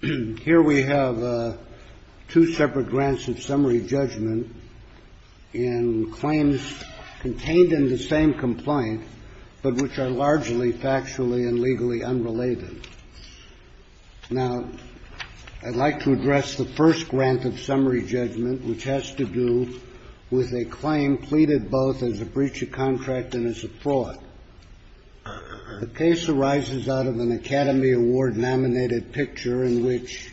Here we have two separate grants of summary judgment in claims contained in the same complaint, but which are largely factually and legally unrelated. Now, I'd like to address the first grant of summary judgment, which has to do with a claim pleaded both as a breach of contract and as a fraud. The case arises out of an Academy Award nominated picture in which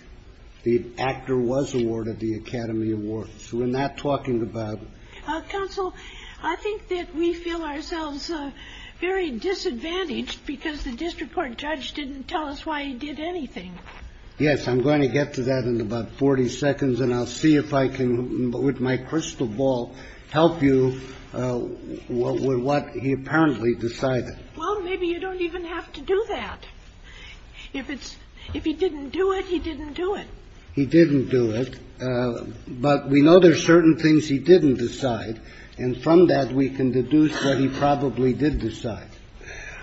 the actor was awarded the Academy Award. So we're not talking about counsel. I think that we feel ourselves very disadvantaged because the district court judge didn't tell us why he did anything. Yes, I'm going to get to that in about 40 seconds. And I'll see if I can, with my crystal ball, help you with what he apparently decided. Well, maybe you don't even have to do that. If it's – if he didn't do it, he didn't do it. He didn't do it. But we know there are certain things he didn't decide. And from that, we can deduce what he probably did decide.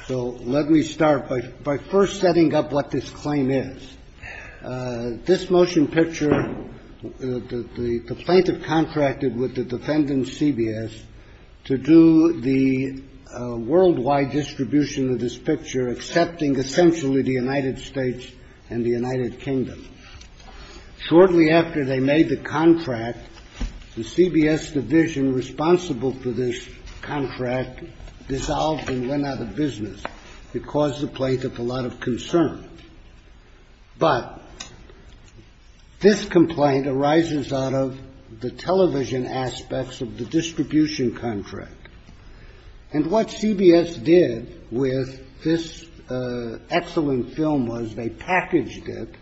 So let me start by first setting up what this claim is. This motion picture, the plaintiff contracted with the defendant, CBS, to do the worldwide distribution of this picture, accepting essentially the United States and the United Kingdom. Shortly after they made the contract, the CBS division responsible for this contract dissolved and went out of business. It caused the plaintiff a lot of concern. But this complaint arises out of the television aspects of the distribution contract. And what CBS did with this excellent film was they packaged it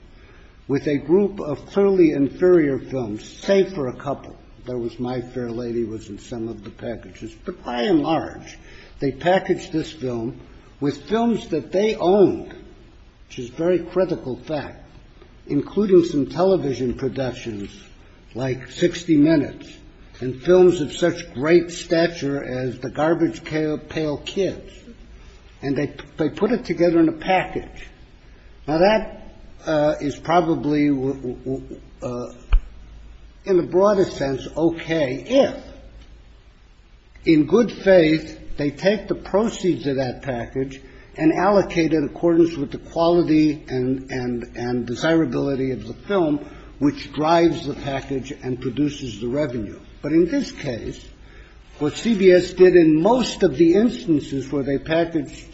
with a group of fairly inferior films, save for a couple. There was My Fair Lady was in some of the packages. But by and large, they packaged this film with films that they owned, which is a very critical fact, including some television productions like 60 Minutes and films of such great stature as The Garbage Pail Kids. And they put it together in a package. Now, that is probably, in the broadest sense, okay if, in good faith, they take the proceeds of that package and allocate it in accordance with the quality and desirability of the film, which drives the package and produces the revenue. But in this case, what CBS did in most of the instances where they packaged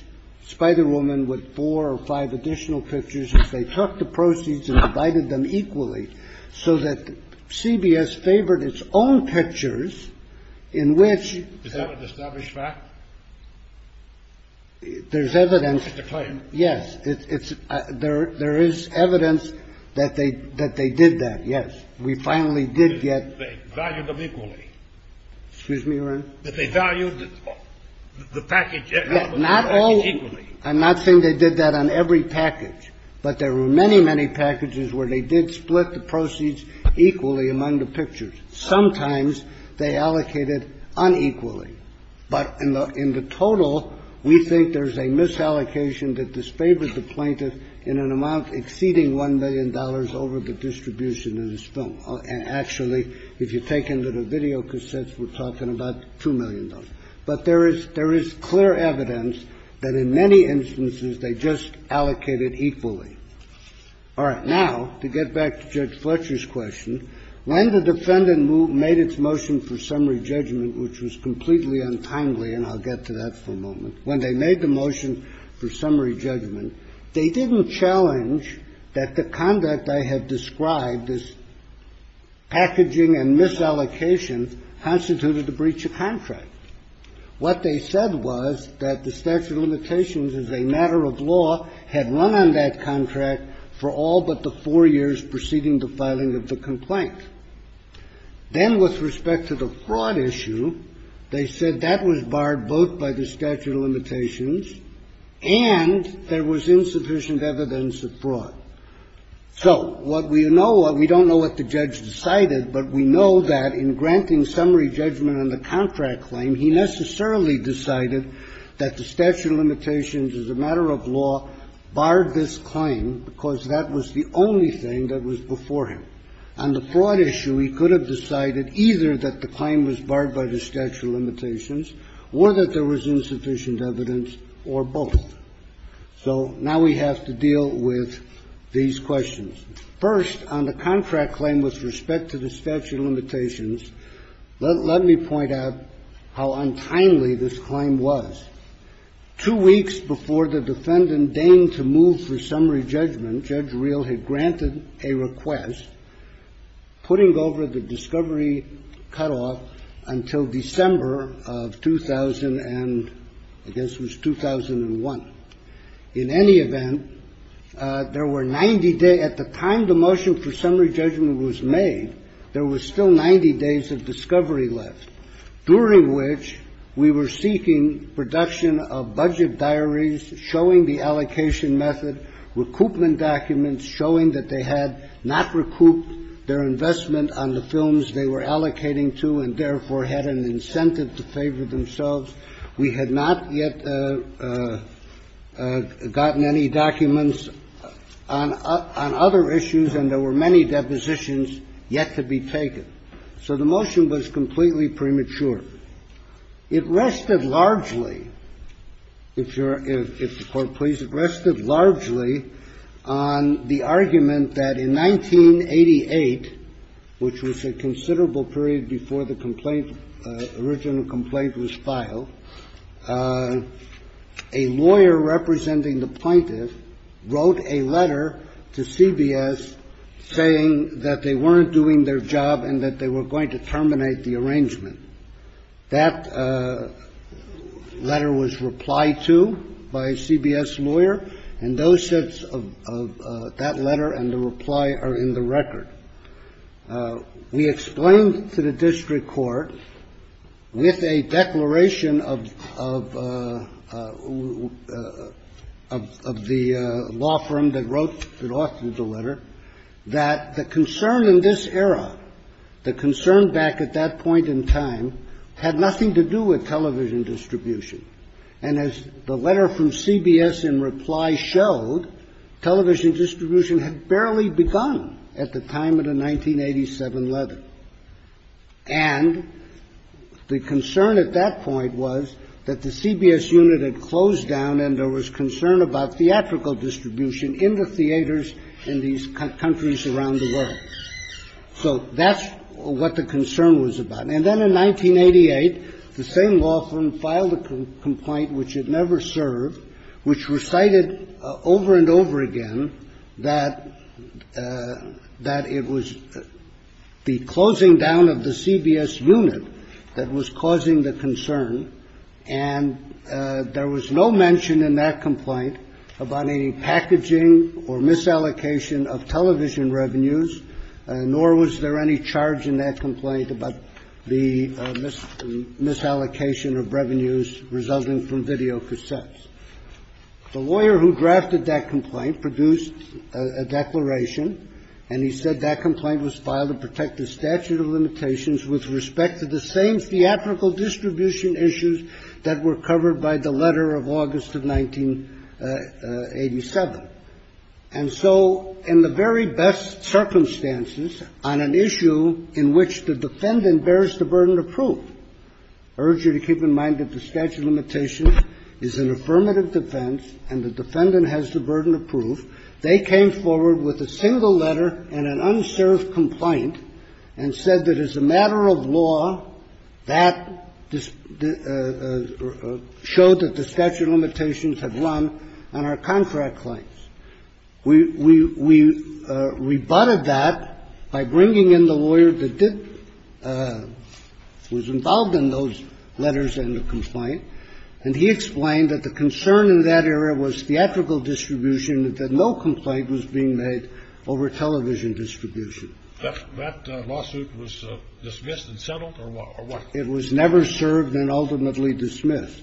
Spider Woman with four or five additional pictures is they took the proceeds and divided them equally so that CBS favored its own pictures in which. Is that an established fact? There's evidence. It's a claim. Yes. There is evidence that they did that, yes. We finally did get. They valued them equally. Excuse me, Your Honor? That they valued the package equally. Not all. I'm not saying they did that on every package. But there were many, many packages where they did split the proceeds equally among the pictures. Sometimes they allocated unequally. But in the total, we think there's a misallocation that disfavored the plaintiff in an amount exceeding $1 million over the distribution of this film. Actually, if you take into the videocassettes, we're talking about $2 million. But there is clear evidence that in many instances they just allocated equally. All right. Now, to get back to Judge Fletcher's question, when the defendant made its motion for summary judgment, which was completely untimely, and I'll get to that for a moment. When they made the motion for summary judgment, they didn't challenge that the conduct I had described as packaging and misallocation constituted a breach of contract. What they said was that the statute of limitations as a matter of law had run on that contract for all but the four years preceding the filing of the complaint. Then with respect to the fraud issue, they said that was barred both by the statute of limitations and there was insufficient evidence of fraud. So what we know or we don't know what the judge decided, but we know that in granting summary judgment on the contract claim, he necessarily decided that the statute of limitations as a matter of law barred this claim because that was the only thing that was before him. On the fraud issue, he could have decided either that the claim was barred by the statute of limitations or that there was insufficient evidence or both. So now we have to deal with these questions. First, on the contract claim with respect to the statute of limitations, let me point out how untimely this claim was. Two weeks before the defendant deigned to move for summary judgment, Judge Reel had granted a request, putting over the discovery cutoff until December of 2000 and I guess it was 2001. In any event, there were 90 days at the time the motion for summary judgment was made, there were still 90 days of discovery left, during which we were seeking production of budget diaries showing the allocation method, recoupment documents showing that they had not recouped their investment on the films they were allocating to and therefore had an incentive to favor themselves. We had not yet gotten any documents on other issues and there were many depositions yet to be taken. So the motion was completely premature. It rested largely, if the Court please, it rested largely on the argument that in 1988, which was a considerable period before the complaint, original complaint was filed, a lawyer representing the plaintiff wrote a letter to CBS saying that they weren't doing their job and that they were going to terminate the arrangement. That letter was replied to by a CBS lawyer and those sets of that letter and the reply are in the record. We explained to the district court with a declaration of the law firm that wrote the letter that the concern in this era, the concern back at that point in time, had nothing to do with television distribution. And as the letter from CBS in reply showed, television distribution had barely begun at the time of the 1987 letter. And the concern at that point was that the CBS unit had closed down and there was concern about theatrical distribution in the theaters in these countries around the world. So that's what the concern was about. And then in 1988, the same law firm filed a complaint which it never served, which recited over and over again that it was the closing down of the CBS unit that was causing the concern, and there was no mention in that complaint about any packaging or misallocation of television revenues, nor was there any charge in that complaint about the misallocation of revenues resulting from videocassettes. The lawyer who drafted that complaint produced a declaration and he said that complaint was filed to protect the statute of limitations with respect to the same theatrical distribution issues that were covered by the letter of August of 1987. And so in the very best circumstances on an issue in which the defendant bears the burden of proof, I urge you to keep in mind that the statute of limitations is an affirmative defense and the defendant has the burden of proof. They came forward with a single letter and an unserved complaint and said that as a matter of law, that showed that the statute of limitations had run on our contract claims. We rebutted that by bringing in the lawyer that was involved in those letters and the made over television distribution. That lawsuit was dismissed and settled or what? It was never served and ultimately dismissed.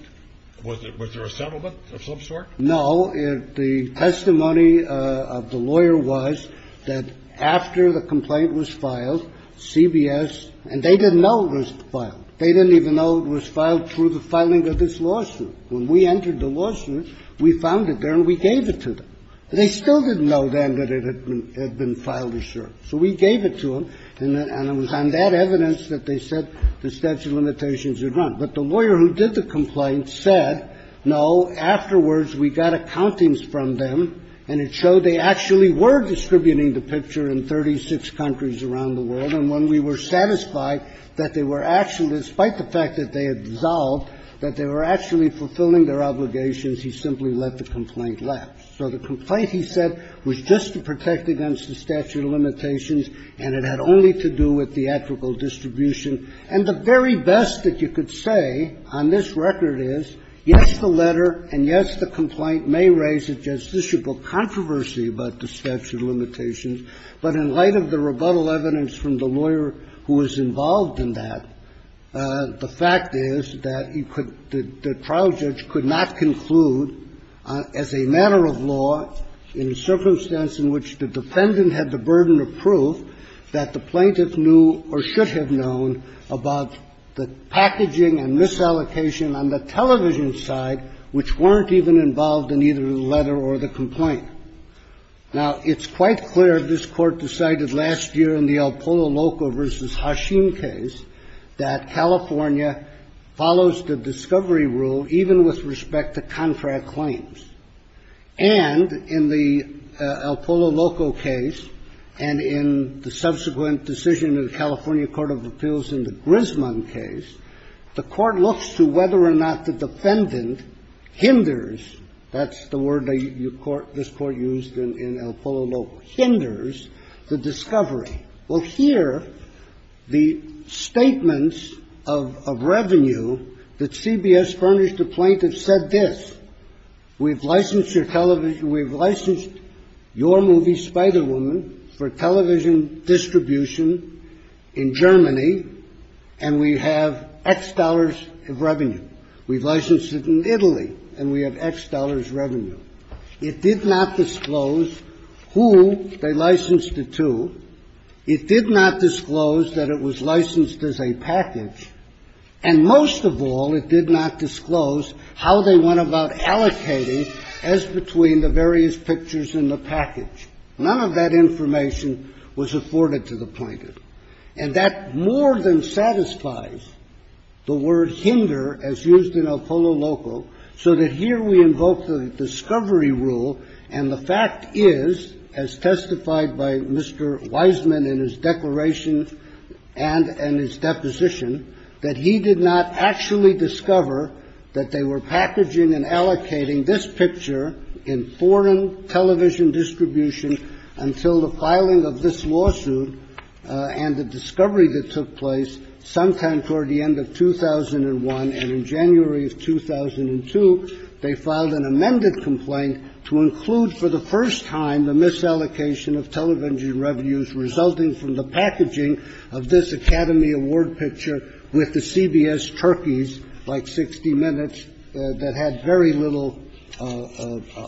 Was there a settlement of some sort? No. The testimony of the lawyer was that after the complaint was filed, CBS, and they didn't know it was filed. They didn't even know it was filed through the filing of this lawsuit. When we entered the lawsuit, we found it there and we gave it to them. They still didn't know then that it had been filed or served. So we gave it to them and it was on that evidence that they said the statute of limitations had run. But the lawyer who did the complaint said, no, afterwards we got accountings from them and it showed they actually were distributing the picture in 36 countries around the world. And when we were satisfied that they were actually, despite the fact that they had dissolved, that they were actually fulfilling their obligations, he simply let the complaint lapse. So the complaint, he said, was just to protect against the statute of limitations and it had only to do with theatrical distribution. And the very best that you could say on this record is, yes, the letter and, yes, the complaint may raise a justiciable controversy about the statute of limitations, but in light of the rebuttal evidence from the lawyer who was involved in that, the fact is that you could – the trial judge could not conclude as a matter of law in a circumstance in which the defendant had the burden of proof that the plaintiff knew or should have known about the packaging and misallocation on the television side which weren't even involved in either the letter or the complaint. Now, it's quite clear this Court decided last year in the Alpolo Loco v. Hashim case that California follows the discovery rule even with respect to contract claims. And in the Alpolo Loco case and in the subsequent decision of the California Court of Appeals in the Grisman case, the Court looks to whether or not the defendant hinders – that's the word this Court used in Alpolo Loco – hinders the discovery. Well, here, the statements of revenue that CBS furnished the plaintiff said this. We've licensed your television – we've licensed your movie Spider Woman for television distribution in Germany, and we have X dollars of revenue. We've licensed it in Italy, and we have X dollars revenue. It did not disclose who they licensed it to. It did not disclose that it was licensed as a package. And most of all, it did not disclose how they went about allocating as between the various pictures in the package. None of that information was afforded to the plaintiff. And that more than satisfies the word hinder, as used in Alpolo Loco, so that here we invoke the discovery rule, and the fact is, as testified by Mr. Wiseman in his declaration and in his deposition, that he did not actually discover that they were packaging and allocating this picture in foreign television distribution until the filing of this lawsuit and the discovery that took place sometime toward the end of the lawsuit. And that's why we filed an amended complaint to include for the first time the misallocation of television revenues resulting from the packaging of this Academy Award picture with the CBS turkeys, like 60 Minutes, that had very little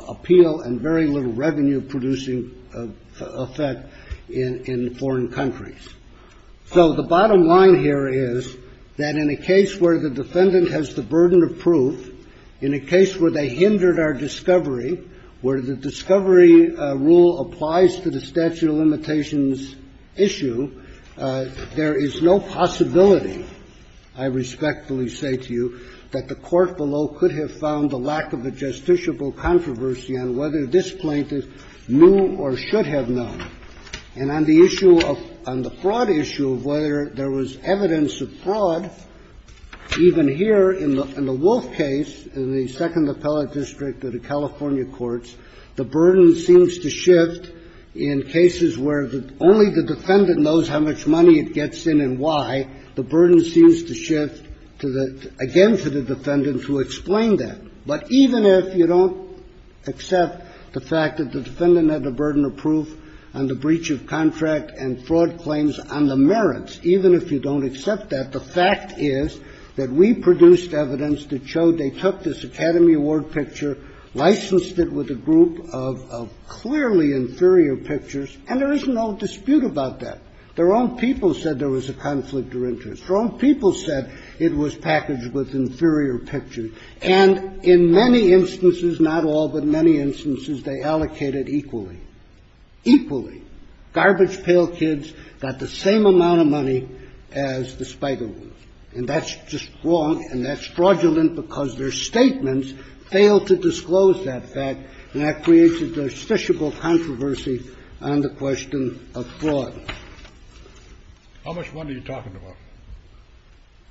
appeal and very little revenue-producing effect in foreign countries. So the bottom line here is that in a case where the defendant has the burden of proof, in a case where they hindered our discovery, where the discovery rule applies to the statute of limitations issue, there is no possibility, I respectfully say to you, that the court below could have found the lack of a justiciable controversy on whether this plaintiff knew or should have known. And on the issue of the fraud issue, whether there was evidence of fraud, even here in the Wolf case, in the Second Appellate District of the California courts, the burden seems to shift to the – again, to the defendants who explained that. But even if you don't accept the fact that the defendant had the burden of proof on the breach of contract and fraud claims on the merits, even if you don't accept that, the fact is that we produced evidence that showed they took this Academy Award picture, licensed it with a group of clearly inferior pictures, and there is no dispute about that. The wrong people said there was a conflict of interest. The wrong people said it was packaged with inferior pictures. And in many instances, not all, but many instances, they allocated equally. Equally. Garbage pail kids got the same amount of money as the spider woman. And that's just wrong, and that's fraudulent because their statements fail to disclose that fact, and that creates a justiciable controversy on the question of fraud. How much money are you talking about?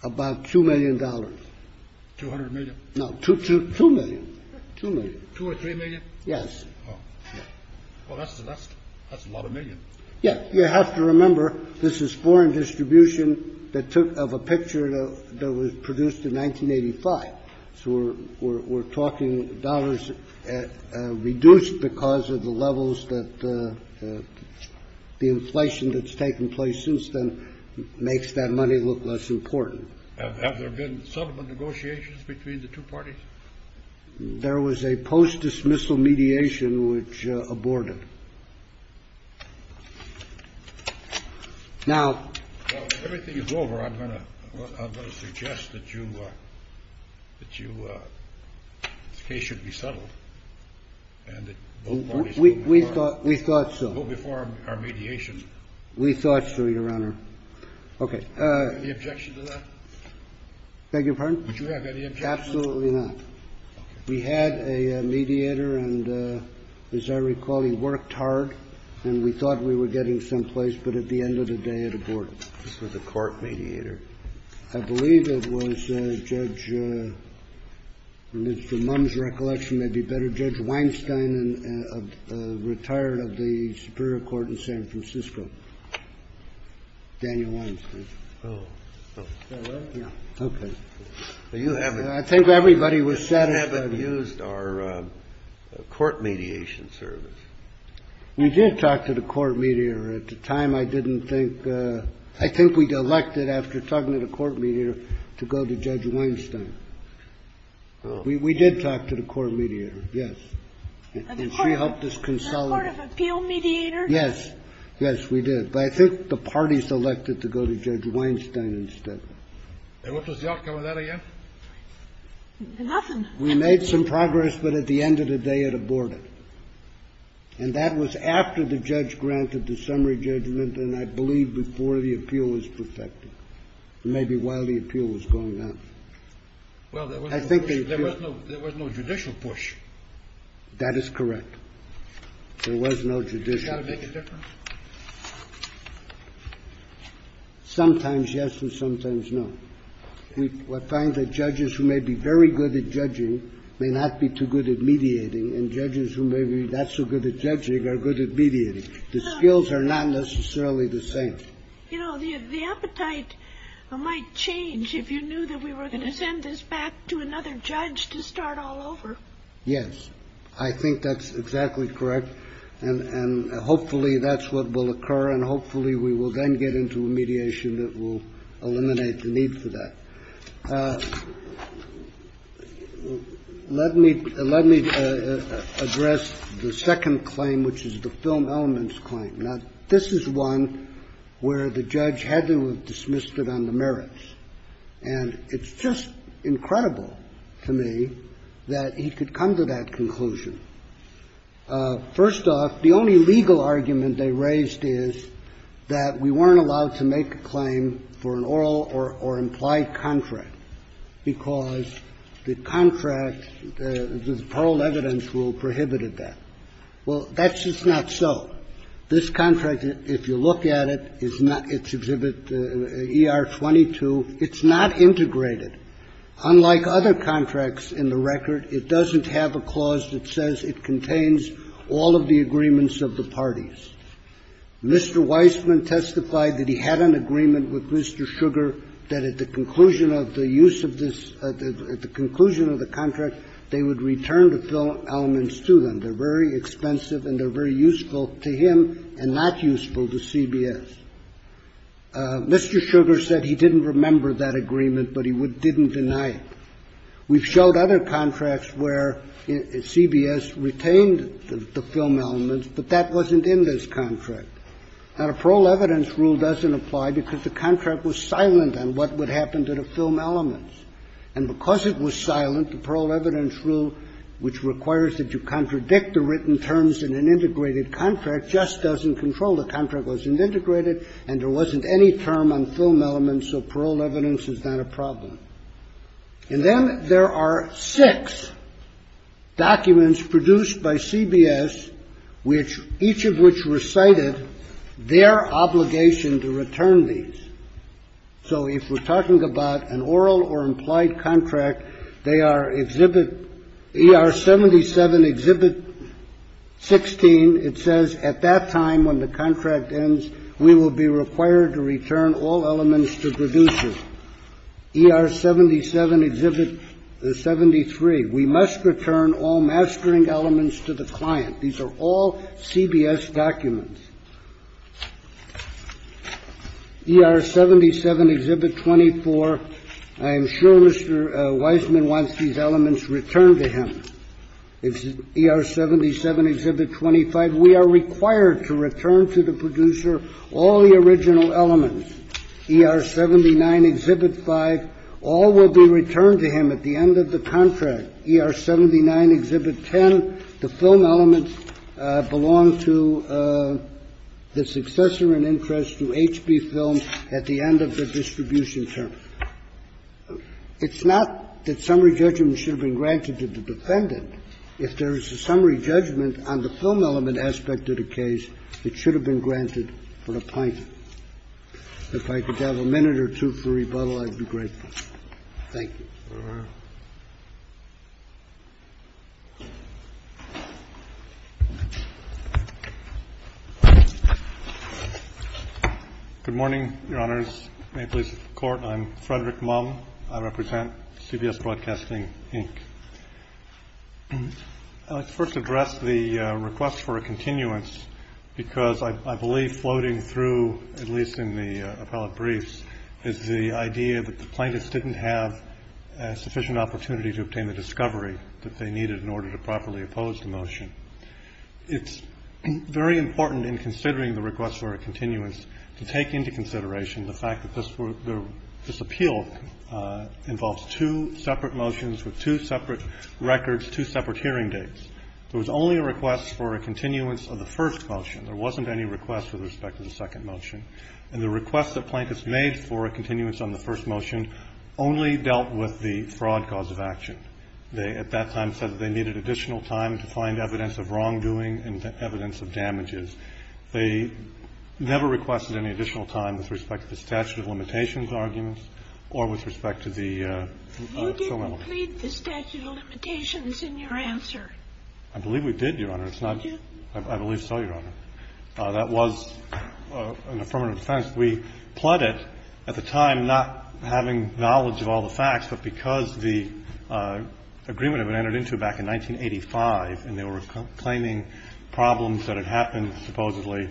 About $2 million. $200 million? No, $2 million. $2 million. $2 or $3 million? Yes. Oh. Well, that's a lot of million. Yes. You have to remember, this is foreign distribution that took of a picture that was produced in 1985, so we're talking dollars reduced because of the levels that the inflation that's taken place since then makes that money look less important. Have there been settlement negotiations between the two parties? There was a post-dismissal mediation, which aborted. Now, everything is over. I'm going to suggest that you the case should be settled and that both parties go before We thought so. our mediation. We thought so, Your Honor. Okay. Any objection to that? Beg your pardon? Would you have any objection? Absolutely not. Okay. We had a mediator, and as I recall, he worked hard, and we thought we were getting some place, but at the end of the day, it aborted. This was a court mediator. I believe it was Judge Mr. Mums, recollection may be better, Judge Weinstein, a retired of the Superior Court in San Francisco, Daniel Weinstein. Oh. Is that right? Yeah. Okay. I think everybody was satisfied. You haven't used our court mediation service. We did talk to the court mediator. At the time, I didn't think we'd elect it after talking to the court mediator to go to Judge Weinstein. Oh. We did talk to the court mediator, yes. And she helped us consolidate. As part of appeal mediator? Yes. Yes, we did. But I think the parties elected to go to Judge Weinstein instead. And what was the outcome of that again? Nothing. We made some progress, but at the end of the day, it aborted. And that was after the judge granted the summary judgment, and I believe before the appeal was perfected, maybe while the appeal was going on. Well, there was no judicial push. That is correct. There was no judicial push. Does that make a difference? Sometimes yes and sometimes no. We find that judges who may be very good at judging may not be too good at mediating, and judges who may be not so good at judging are good at mediating. The skills are not necessarily the same. You know, the appetite might change if you knew that we were going to send this back to another judge to start all over. Yes. I think that's exactly correct. And hopefully that's what will occur, and hopefully we will then get into a mediation that will eliminate the need for that. Let me address the second claim, which is the film elements claim. Now, this is one where the judge had to have dismissed it on the merits. And it's just incredible to me that he could come to that conclusion. First off, the only legal argument they raised is that we weren't allowed to make a claim for an oral or implied contract because the contract, the paroled evidence rule prohibited that. Well, that's just not so. This contract, if you look at it, is not its exhibit ER-22. It's not integrated. Unlike other contracts in the record, it doesn't have a clause that says it contains all of the agreements of the parties. Mr. Weissman testified that he had an agreement with Mr. Sugar that at the conclusion of the use of this, at the conclusion of the contract, they would return the film elements to them. They're very expensive and they're very useful to him and not useful to CBS. Mr. Sugar said he didn't remember that agreement, but he didn't deny it. We've showed other contracts where CBS retained the film elements, but that wasn't in this contract. Now, the paroled evidence rule doesn't apply because the contract was silent on what would happen to the film elements. And because it was silent, the paroled evidence rule, which requires that you contradict the written terms in an integrated contract, just doesn't control. The contract wasn't integrated and there wasn't any term on film elements, so paroled evidence is not a problem. And then there are six documents produced by CBS, which each of which recited their obligation to return these. So if we're talking about an oral or implied contract, they are Exhibit ER-77, Exhibit 16. It says at that time when the contract ends, we will be required to return all elements to producers. ER-77, Exhibit 73, we must return all mastering elements to the client. These are all CBS documents. ER-77, Exhibit 24, I am sure Mr. Wiseman wants these elements returned to him. ER-77, Exhibit 25, we are required to return to the producer all the original elements. ER-79, Exhibit 5, all will be returned to him at the end of the contract. ER-79, Exhibit 10, the film elements belong to the successor in interest to HB Films at the end of the distribution term. It's not that summary judgment should have been granted to the defendant. If there is a summary judgment on the film element aspect of the case, it should have been granted for the plaintiff. If I could have a minute or two for rebuttal, I'd be grateful. Thank you. MR. MUMM. Good morning, Your Honors. May it please the Court, I'm Frederick Mumm. I represent CBS Broadcasting, Inc. I'd like to first address the request for a continuance because I believe floating through, at least in the appellate briefs, is the idea that the plaintiffs didn't have sufficient opportunity to obtain the discovery that they needed in order to properly oppose the motion. It's very important in considering the request for a continuance to take into consideration the fact that this appeal involves two separate motions with two separate records, two separate hearing dates. There was only a request for a continuance of the first motion. There wasn't any request with respect to the second motion. And the request that plaintiffs made for a continuance on the first motion only dealt with the fraud cause of action. They at that time said that they needed additional time to find evidence of wrongdoing and evidence of damages. They never requested any additional time with respect to the statute of limitations arguments or with respect to the film element. You didn't plead the statute of limitations in your answer. I believe we did, Your Honor. Did you? I believe so, Your Honor. That was an affirmative defense. We pled it at the time, not having knowledge of all the facts, but because the agreement had been entered into back in 1985 and they were claiming problems that had happened, supposedly,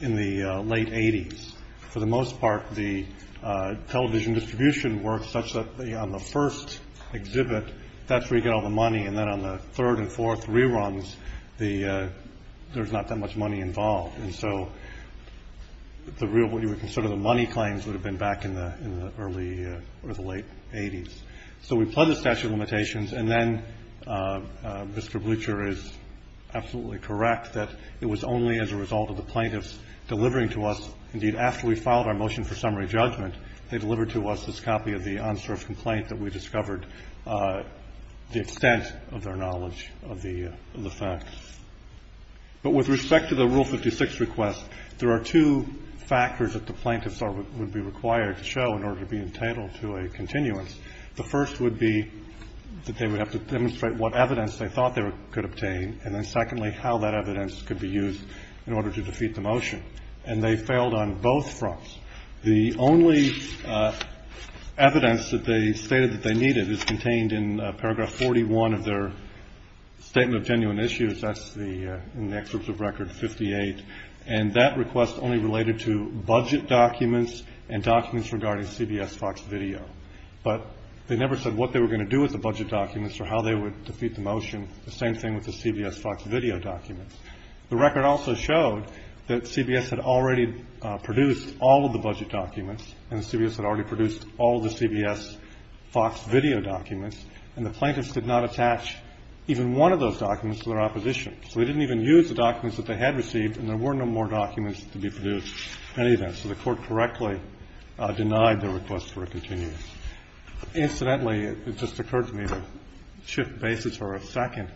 in the late 80s. For the most part, the television distribution works such that on the first exhibit, that's where you get all the money, and then on the third and fourth reruns, there's not that much money involved. And so the real, what you would consider the money claims would have been back in the early or the late 80s. So we pled the statute of limitations. And then Mr. Blucher is absolutely correct that it was only as a result of the plaintiffs delivering to us, indeed, after we filed our motion for summary judgment, they delivered to us this copy of the unserved complaint that we discovered, the extent of their knowledge of the facts. But with respect to the Rule 56 request, there are two factors that the plaintiffs would be required to show in order to be entitled to a continuance. The first would be that they would have to demonstrate what evidence they thought they could obtain, and then secondly, how that evidence could be used in order to defeat the motion. And they failed on both fronts. The only evidence that they stated that they needed is contained in Paragraph 41 of their Statement of Genuine Issues, that's in the excerpts of Record 58, and that request only related to budget documents and documents regarding CBS Fox Video. But they never said what they were going to do with the budget documents or how they would defeat the motion, the same thing with the CBS Fox Video documents. The record also showed that CBS had already produced all of the budget documents and CBS had already produced all the CBS Fox Video documents, and the plaintiffs did not attach even one of those documents to their opposition. So they didn't even use the documents that they had received, and there were no more documents to be produced in any event. So the Court correctly denied the request for a continuance. Incidentally, it just occurred to me to shift bases for a second.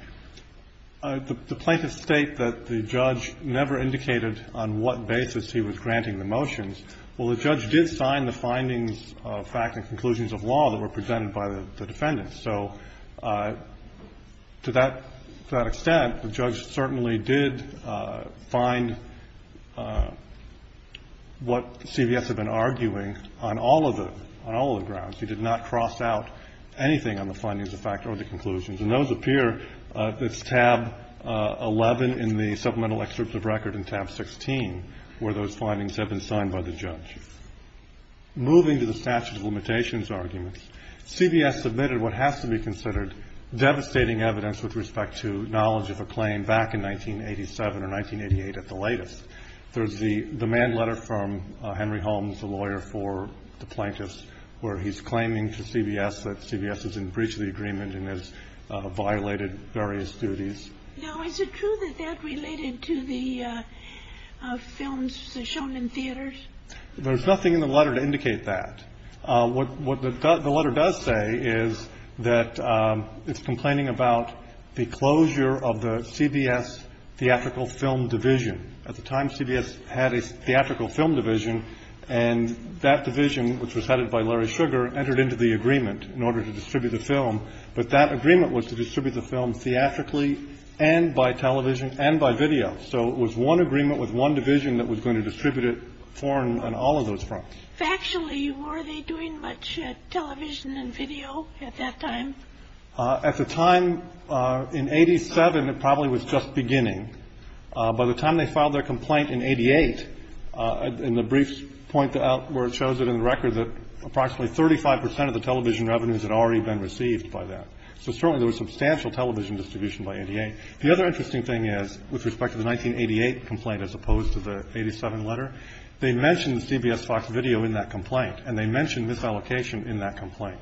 The plaintiffs state that the judge never indicated on what basis he was granting the motions. Well, the judge did sign the findings of fact and conclusions of law that were presented by the defendants. So to that extent, the judge certainly did find what CBS had been arguing on all of the grounds. He did not cross out anything on the findings of fact or the conclusions, and those appear. It's tab 11 in the supplemental excerpt of record and tab 16 where those findings have been signed by the judge. Moving to the statute of limitations arguments, CBS submitted what has to be considered devastating evidence with respect to knowledge of a claim back in 1987 or 1988 at the latest. There's the manned letter from Henry Holmes, the lawyer for the plaintiffs, where he's claiming to CBS that CBS is in breach of the agreement and has violated various duties. Now, is it true that that related to the films shown in theaters? There's nothing in the letter to indicate that. What the letter does say is that it's complaining about the closure of the CBS theatrical film division. At the time, CBS had a theatrical film division, and that division, which was headed by Larry Sugar, entered into the agreement in order to distribute the film. But that agreement was to distribute the film theatrically and by television and by video. So it was one agreement with one division that was going to distribute it on all of those fronts. Factually, were they doing much television and video at that time? At the time, in 87, it probably was just beginning. By the time they filed their complaint in 88, and the briefs point out where it shows it in the record that approximately 35 percent of the television revenues had already been received by that. So certainly there was substantial television distribution by 88. The other interesting thing is, with respect to the 1988 complaint as opposed to the 87 letter, they mentioned CBS Fox Video in that complaint, and they mentioned misallocation in that complaint.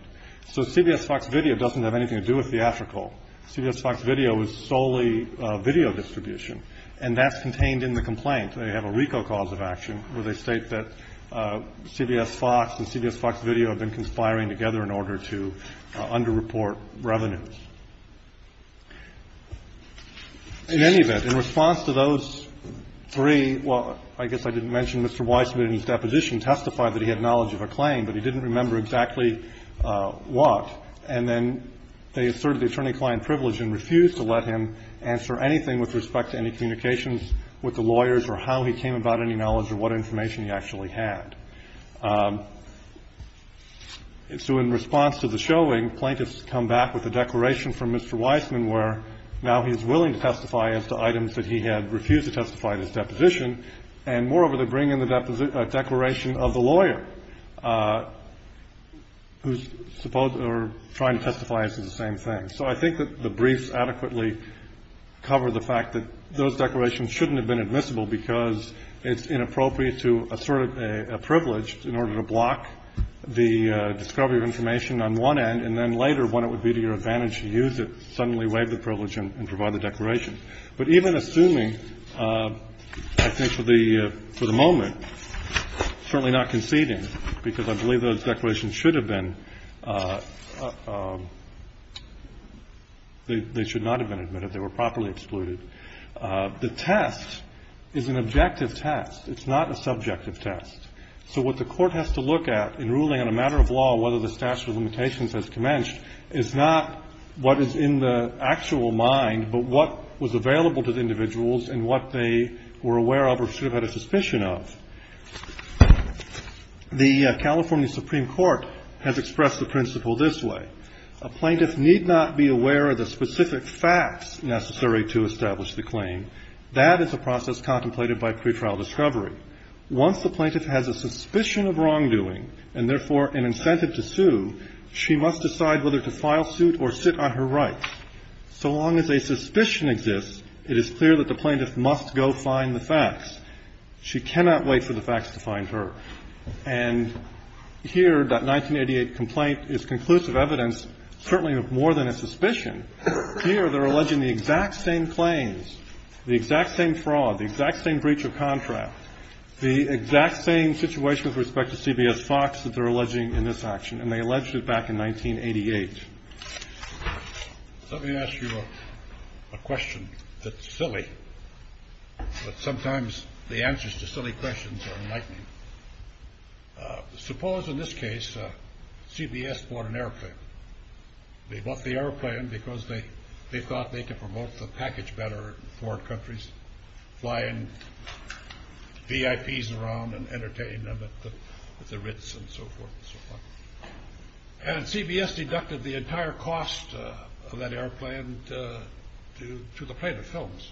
So CBS Fox Video doesn't have anything to do with theatrical. CBS Fox Video is solely video distribution, and that's contained in the complaint. They have a RICO cause of action where they state that CBS Fox and CBS Fox Video have been conspiring together in order to underreport revenues. In any event, in response to those three, well, I guess I didn't mention Mr. Wise submitted his deposition, testified that he had knowledge of a claim, but he didn't remember exactly what. And then they asserted the attorney-client privilege and refused to let him answer anything with respect to any communications with the lawyers or how he came about any knowledge or what information he actually had. So in response to the showing, plaintiffs come back with a declaration from Mr. Wiseman where now he's willing to testify as to items that he had refused to testify at his deposition, and moreover, they bring in the declaration of the lawyer, who's supposed or trying to testify as to the same thing. And so I think that the briefs adequately cover the fact that those declarations shouldn't have been admissible because it's inappropriate to assert a privilege in order to block the discovery of information on one end, and then later, when it would be to your advantage to use it, suddenly waive the privilege and provide the declaration. But even assuming, I think for the moment, certainly not conceding, because I believe those declarations should have been. They should not have been admitted. They were properly excluded. The test is an objective test. It's not a subjective test. So what the Court has to look at in ruling on a matter of law, whether the statute of limitations has commenced, is not what is in the actual mind, but what was available to the individuals and what they were aware of or should have had a suspicion of. The California Supreme Court has expressed the principle this way. A plaintiff need not be aware of the specific facts necessary to establish the claim. That is a process contemplated by pretrial discovery. Once the plaintiff has a suspicion of wrongdoing, and therefore an incentive to sue, she must decide whether to file suit or sit on her rights. So long as a suspicion exists, it is clear that the plaintiff must go find the facts. She cannot wait for the facts to find her. And here, that 1988 complaint is conclusive evidence, certainly more than a suspicion. Here, they're alleging the exact same claims, the exact same fraud, the exact same breach of contract, the exact same situation with respect to CBS Fox that they're alleging in this action, and they alleged it back in 1988. Let me ask you a question that's silly, but sometimes the answers to silly questions are enlightening. Suppose, in this case, CBS bought an airplane. They bought the airplane because they thought they could promote the package better in foreign countries, flying VIPs around and entertaining them at the Ritz and so forth and so on. And CBS deducted the entire cost of that airplane to the plaintiff's films.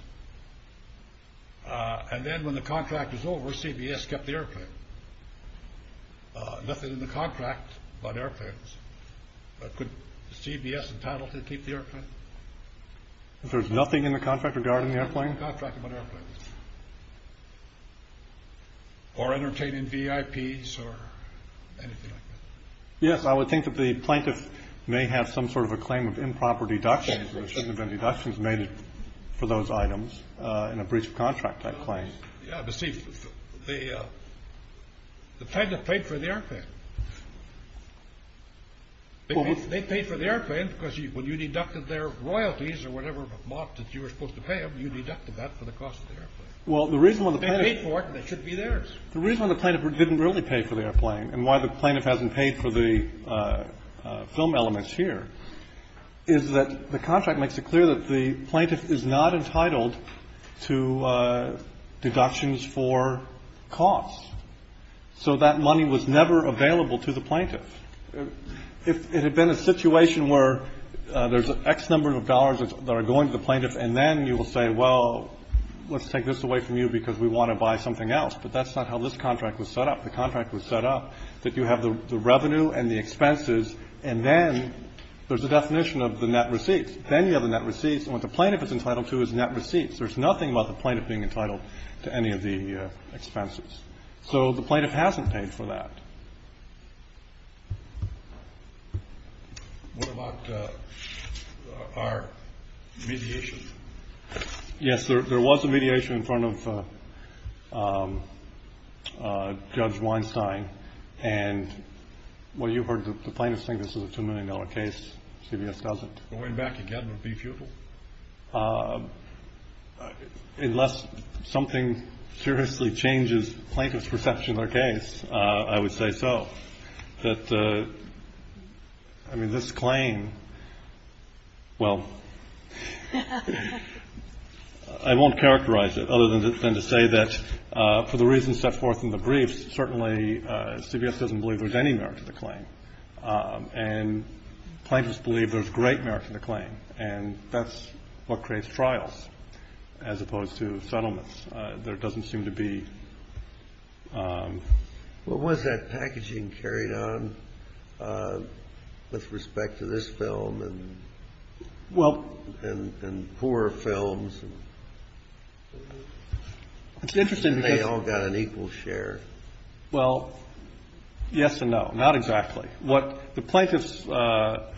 And then when the contract was over, CBS kept the airplane. Nothing in the contract about airplanes. Could CBS and Paddleton keep the airplane? There's nothing in the contract regarding the airplane? Nothing in the contract about airplanes. Or entertaining VIPs or anything like that. Yes, I would think that the plaintiff may have some sort of a claim of improper deductions. There shouldn't have been deductions made for those items in a breach of contract, that claim. Yeah, but see, the plaintiff paid for the airplane. They paid for the airplane because when you deducted their royalties or whatever amount that you were supposed to pay them, you deducted that for the cost of the airplane. Well, the reason when the plaintiff. They paid for it and it should be theirs. The reason when the plaintiff didn't really pay for the airplane and why the plaintiff hasn't paid for the film elements here is that the contract makes it clear that the plaintiff is not entitled to deductions for costs. So that money was never available to the plaintiff. It had been a situation where there's X number of dollars that are going to the plaintiff and then you will say, well, let's take this away from you because we want to buy something else. But that's not how this contract was set up. The contract was set up that you have the revenue and the expenses and then there's a definition of the net receipts. Then you have the net receipts. And what the plaintiff is entitled to is net receipts. There's nothing about the plaintiff being entitled to any of the expenses. So the plaintiff hasn't paid for that. What about our mediation? Yes, there was a mediation in front of Judge Weinstein. And what you heard the plaintiff saying this is a $2 million case. CBS doesn't. Going back again would be futile. Unless something seriously changes plaintiff's perception of their case, I would say so. That, I mean, this claim, well, I won't characterize it other than to say that for the reasons set forth in the briefs, certainly CBS doesn't believe there's any merit to the claim. And plaintiffs believe there's great merit to the claim. And that's what creates trials as opposed to settlements. There doesn't seem to be. Well, was that packaging carried on with respect to this film and poor films? It's interesting because. And they all got an equal share. Well, yes and no. Not exactly. What the plaintiff's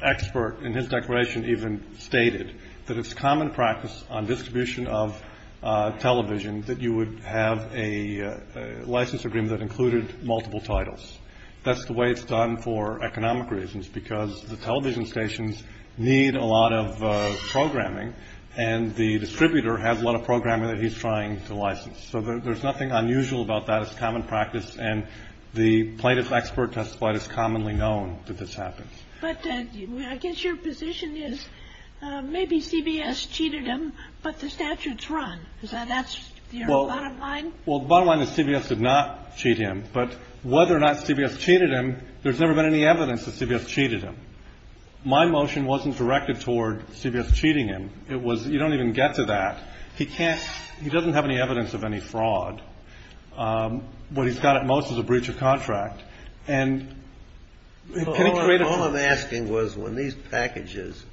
expert in his declaration even stated, that it's common practice on distribution of television that you would have a license agreement that included multiple titles. That's the way it's done for economic reasons because the television stations need a lot of programming and the distributor has a lot of programming that he's trying to license. So there's nothing unusual about that. It's common practice. And the plaintiff's expert testified it's commonly known that this happens. But I guess your position is maybe CBS cheated him, but the statute's wrong. Is that your bottom line? Well, the bottom line is CBS did not cheat him. But whether or not CBS cheated him, there's never been any evidence that CBS cheated him. My motion wasn't directed toward CBS cheating him. It was you don't even get to that. He can't he doesn't have any evidence of any fraud. What he's got at most is a breach of contract. And all I'm asking was when these packages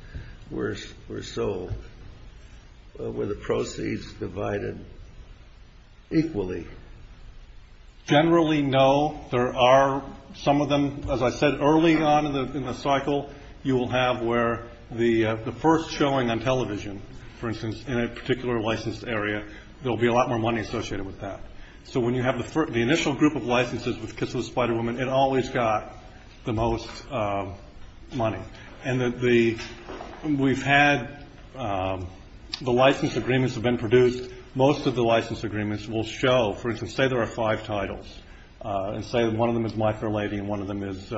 were sold, were the proceeds divided equally? Generally, no. There are some of them, as I said early on in the cycle, you will have where the first showing on television, for instance, in a particular licensed area, there'll be a lot more money associated with that. So when you have the initial group of licenses with Kiss of the Spider Woman, it always got the most money. And we've had the license agreements have been produced. Most of the license agreements will show, for instance, say there are five titles and say that one of them is My Fair Lady and one of them is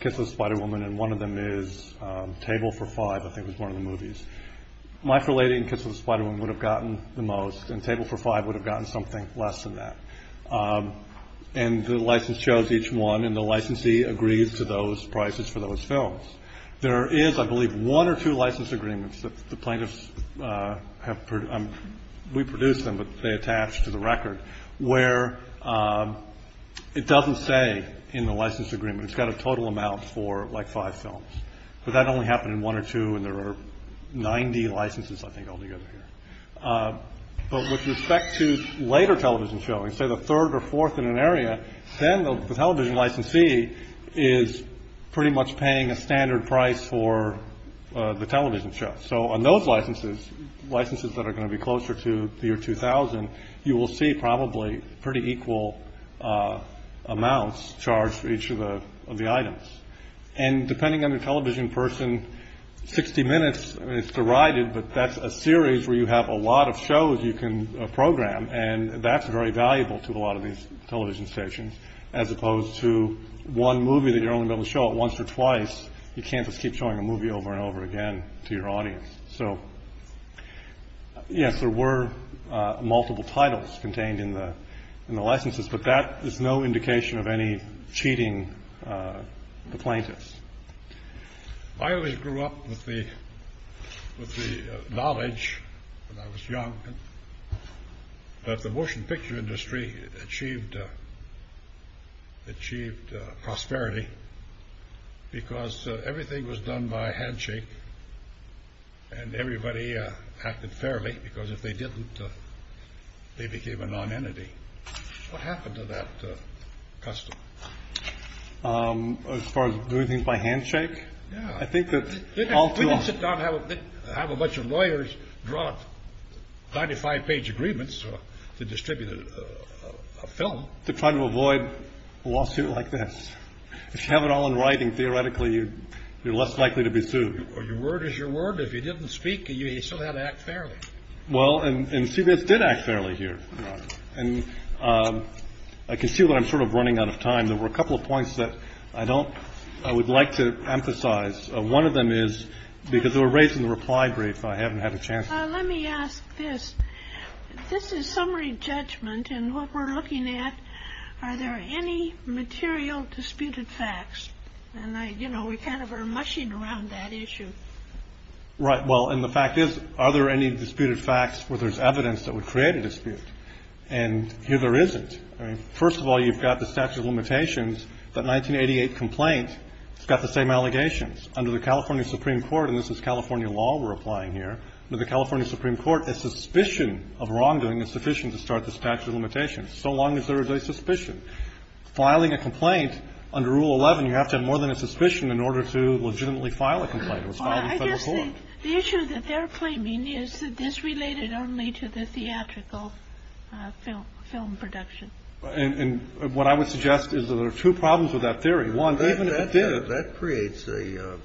Kiss of the Spider Woman, and one of them is Table for Five, I think was one of the movies. My Fair Lady and Kiss of the Spider Woman would have gotten the most, and Table for Five would have gotten something less than that. And the license shows each one, and the licensee agrees to those prices for those films. There is, I believe, one or two license agreements that the plaintiffs have produced. We produce them, but they attach to the record, where it doesn't say in the license agreement, it's got a total amount for like five films. But that only happened in one or two, and there are 90 licenses, I think, altogether here. But with respect to later television showings, say the third or fourth in an area, then the television licensee is pretty much paying a standard price for the television show. So on those licenses, licenses that are going to be closer to the year 2000, you will see probably pretty equal amounts charged for each of the items. And depending on the television person, 60 minutes is derided, but that's a series where you have a lot of shows you can program, and that's very valuable to a lot of these television stations, as opposed to one movie that you're only going to show it once or twice. You can't just keep showing a movie over and over again to your audience. So, yes, there were multiple titles contained in the licenses, but that is no indication of any cheating the plaintiffs. I always grew up with the knowledge when I was young that the motion picture industry achieved prosperity because everything was done by handshake and everybody acted fairly, because if they didn't, they became a non-entity. What happened to that custom? As far as doing things by handshake? Yeah. We didn't sit down and have a bunch of lawyers draw up 95-page agreements to distribute a film. Well, to try to avoid a lawsuit like this. If you have it all in writing, theoretically, you're less likely to be sued. Your word is your word. If you didn't speak, you still had to act fairly. Well, and CBS did act fairly here. And I can see that I'm sort of running out of time. There were a couple of points that I don't – I would like to emphasize. One of them is – because we're raising the reply brief, I haven't had a chance. Let me ask this. This is summary judgment, and what we're looking at, are there any material disputed facts? And, you know, we kind of are mushing around that issue. Right. Well, and the fact is, are there any disputed facts where there's evidence that would create a dispute? And here there isn't. First of all, you've got the statute of limitations. That 1988 complaint has got the same allegations. Under the California Supreme Court – and this is California law we're applying here – under the California Supreme Court, a suspicion of wrongdoing is sufficient to start the statute of limitations, so long as there is a suspicion. Filing a complaint under Rule 11, you have to have more than a suspicion in order to legitimately file a complaint. It was filed in federal court. Well, I guess the issue that they're claiming is that this related only to the theatrical film production. And what I would suggest is that there are two problems with that theory. One, even if it did – That creates a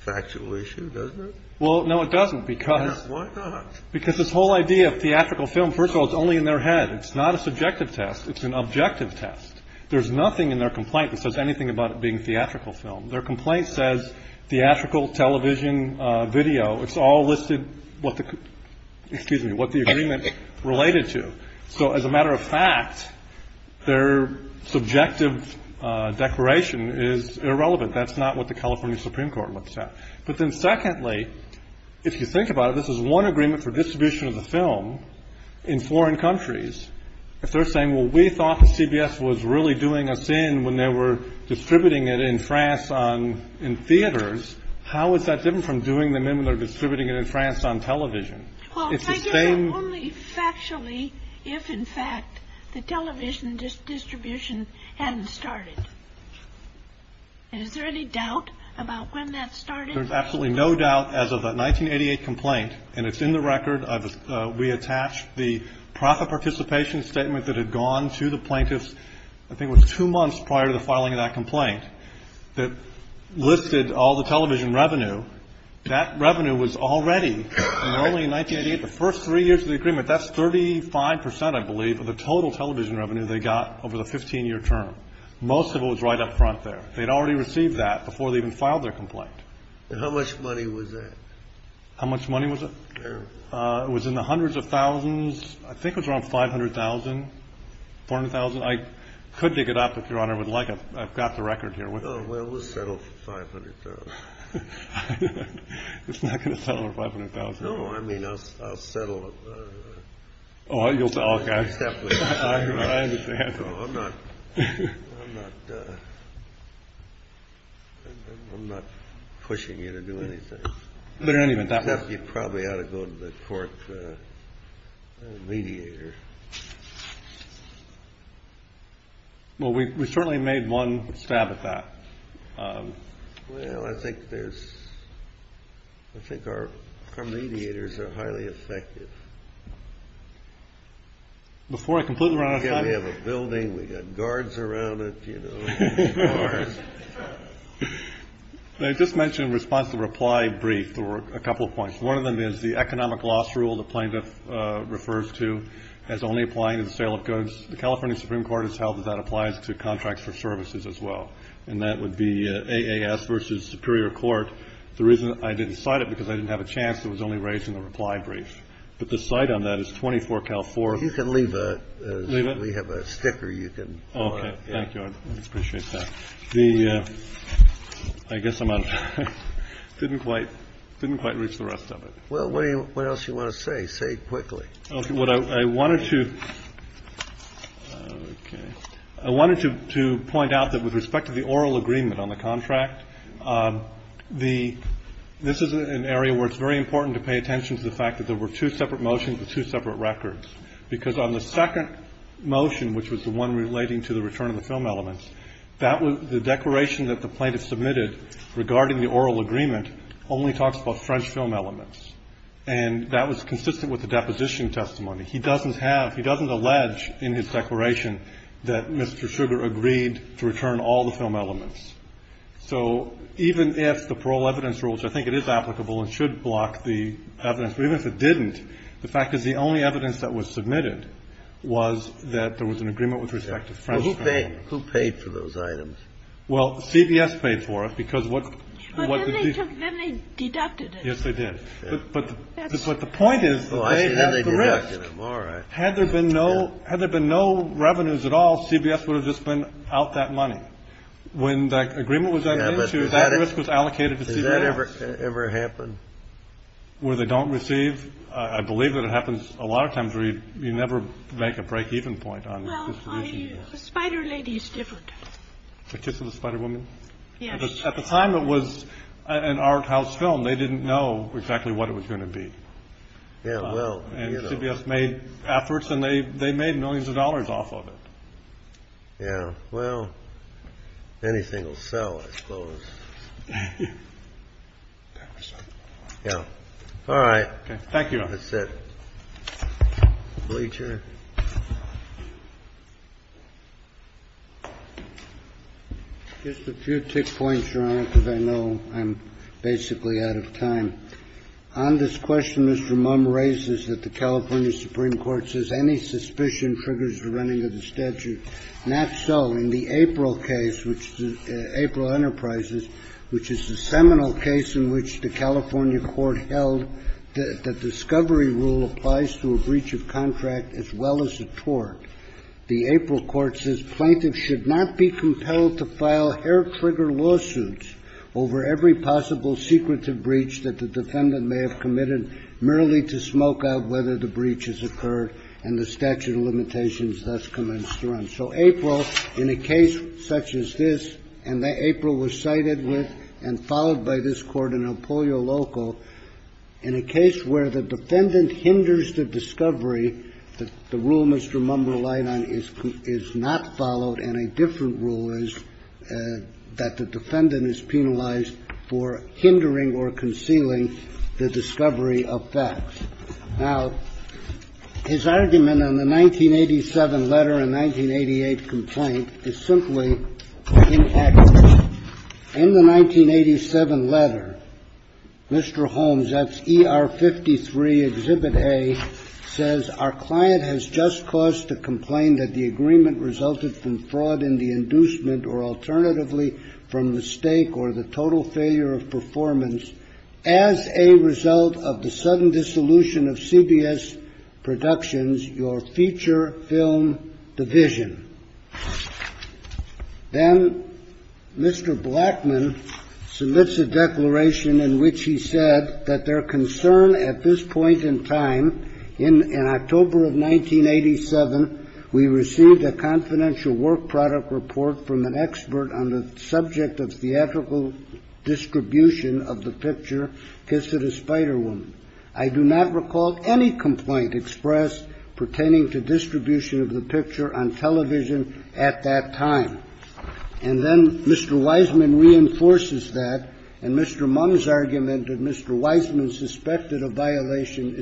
factual issue, doesn't it? Well, no, it doesn't, because – Why not? Because this whole idea of theatrical film, first of all, it's only in their head. It's not a subjective test. It's an objective test. There's nothing in their complaint that says anything about it being theatrical film. Their complaint says theatrical television video. It's all listed what the – excuse me – what the agreement related to. So as a matter of fact, their subjective declaration is irrelevant. That's not what the California Supreme Court looks at. But then secondly, if you think about it, this is one agreement for distribution of the film in foreign countries. If they're saying, well, we thought that CBS was really doing us in when they were distributing it in France in theaters, how is that different from doing them in when they're distributing it in France on television? Well, I guess only factually if, in fact, the television distribution hadn't started. And is there any doubt about when that started? There's absolutely no doubt as of that 1988 complaint. And it's in the record. We attached the profit participation statement that had gone to the plaintiffs, I think it was two months prior to the filing of that complaint, that listed all the television revenue. That revenue was already – and only in 1988, the first three years of the agreement, that's 35 percent, I believe, of the total television revenue they got over the 15-year term. Most of it was right up front there. They'd already received that before they even filed their complaint. And how much money was that? How much money was it? It was in the hundreds of thousands. I think it was around $500,000, $400,000. I could dig it up, if Your Honor would like. I've got the record here with me. Oh, well, we'll settle for $500,000. It's not going to settle for $500,000. No, I mean I'll settle. Oh, you'll settle. Okay. I understand. I'm not pushing you to do anything. But in any event, that was – You probably ought to go to the court mediator. Well, we certainly made one stab at that. Well, I think there's – I think our mediators are highly effective. Before I conclude, Your Honor – We've got to have a building. We've got guards around it, you know. I just mentioned in response to the reply brief there were a couple of points. One of them is the economic loss rule the plaintiff refers to as only applying to the sale of goods. The California Supreme Court has held that that applies to contracts for services as well. And that would be AAS versus Superior Court. The reason I didn't cite it is because I didn't have a chance. It was only raised in the reply brief. But the cite on that is 24-Cal-4. You can leave it. Leave it? We have a sticker you can – Okay. Thank you. I appreciate that. The – I guess I'm out of time. Didn't quite reach the rest of it. Well, what else do you want to say? Say it quickly. Okay. What I wanted to – okay. I wanted to point out that with respect to the oral agreement on the contract, the – this is an area where it's very important to pay attention to the fact that there were two separate motions with two separate records. Because on the second motion, which was the one relating to the return of the film elements, that was – the declaration that the plaintiff submitted regarding the oral agreement only talks about French film elements. And that was consistent with the deposition testimony. He doesn't have – he doesn't allege in his declaration that Mr. Sugar agreed to return all the film elements. So even if the parole evidence rules – I think it is applicable and should block the evidence. But even if it didn't, the fact is the only evidence that was submitted was that there was an agreement with respect to French film elements. Who paid for those items? Well, CBS paid for it because what – But then they deducted it. Yes, they did. But the point is they had the risk. Had there been no revenues at all, CBS would have just been out that money When that agreement was made, that risk was allocated to CBS. Has that ever happened? Where they don't receive? I believe that it happens a lot of times where you never make a break-even point on distribution. Well, the Spider Lady is different. The Kiss of the Spider Woman? Yes. At the time it was an art house film. They didn't know exactly what it was going to be. Yeah, well. And CBS made efforts and they made millions of dollars off of it. Yeah, well, anything will sell, I suppose. Yeah. All right. Thank you, Your Honor. That's it. Bleacher. Just a few tick points, Your Honor, because I know I'm basically out of time. On this question Mr. Mumm raises that the California Supreme Court says that any suspicion triggers the running of the statute. Not so. In the April case, April Enterprises, which is the seminal case in which the California Court held that the discovery rule applies to a breach of contract as well as a tort. The April court says plaintiffs should not be compelled to file hair-trigger lawsuits over every possible secretive breach that the defendant may have committed merely to smoke out whether the breach has occurred and the statute of limitations thus commenced to run. So April, in a case such as this, and April was cited with and followed by this court in Apollo Local, in a case where the defendant hinders the discovery, the rule Mr. Mumm relied on is not followed and a different rule is that the defendant is penalized for hindering or concealing the discovery of facts. Now, his argument on the 1987 letter and 1988 complaint is simply inaccurate. In the 1987 letter, Mr. Holmes, that's ER 53, Exhibit A, says, Our client has just caused to complain that the agreement resulted from fraud in the failure of performance as a result of the sudden dissolution of CBS Productions, your feature film division. Then Mr. Blackman submits a declaration in which he said that their concern at this point in time, in October of 1987, we received a confidential work product report from an expert on the subject of theatrical distribution of the picture, Kiss It a Spider Woman. I do not recall any complaint expressed pertaining to distribution of the picture on television at that time. And then Mr. Wiseman reinforces that, and Mr. Mumm's argument that Mr. Wiseman suspected a violation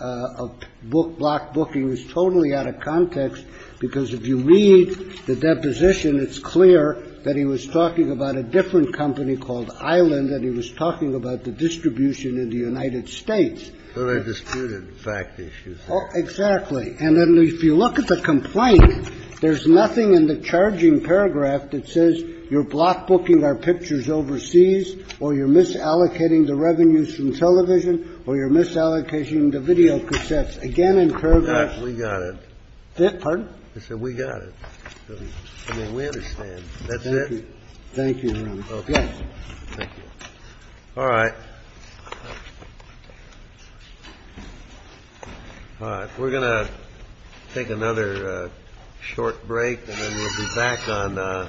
of block booking is totally out of context, because if you read the deposition, it's clear that he was talking about a different company called Island and he was talking about the distribution in the United States. Kennedy. But I disputed fact issues there. Exactly. And then if you look at the complaint, there's nothing in the charging paragraph that says you're block booking our pictures overseas or you're misallocating the revenues from television or you're misallocating the videocassettes. Again, in paragraph. We got it. Pardon? I said we got it. I mean, we understand. That's it. Thank you. Okay. Thank you. All right. All right. We're going to take another short break, and then we'll be back on a little bit later.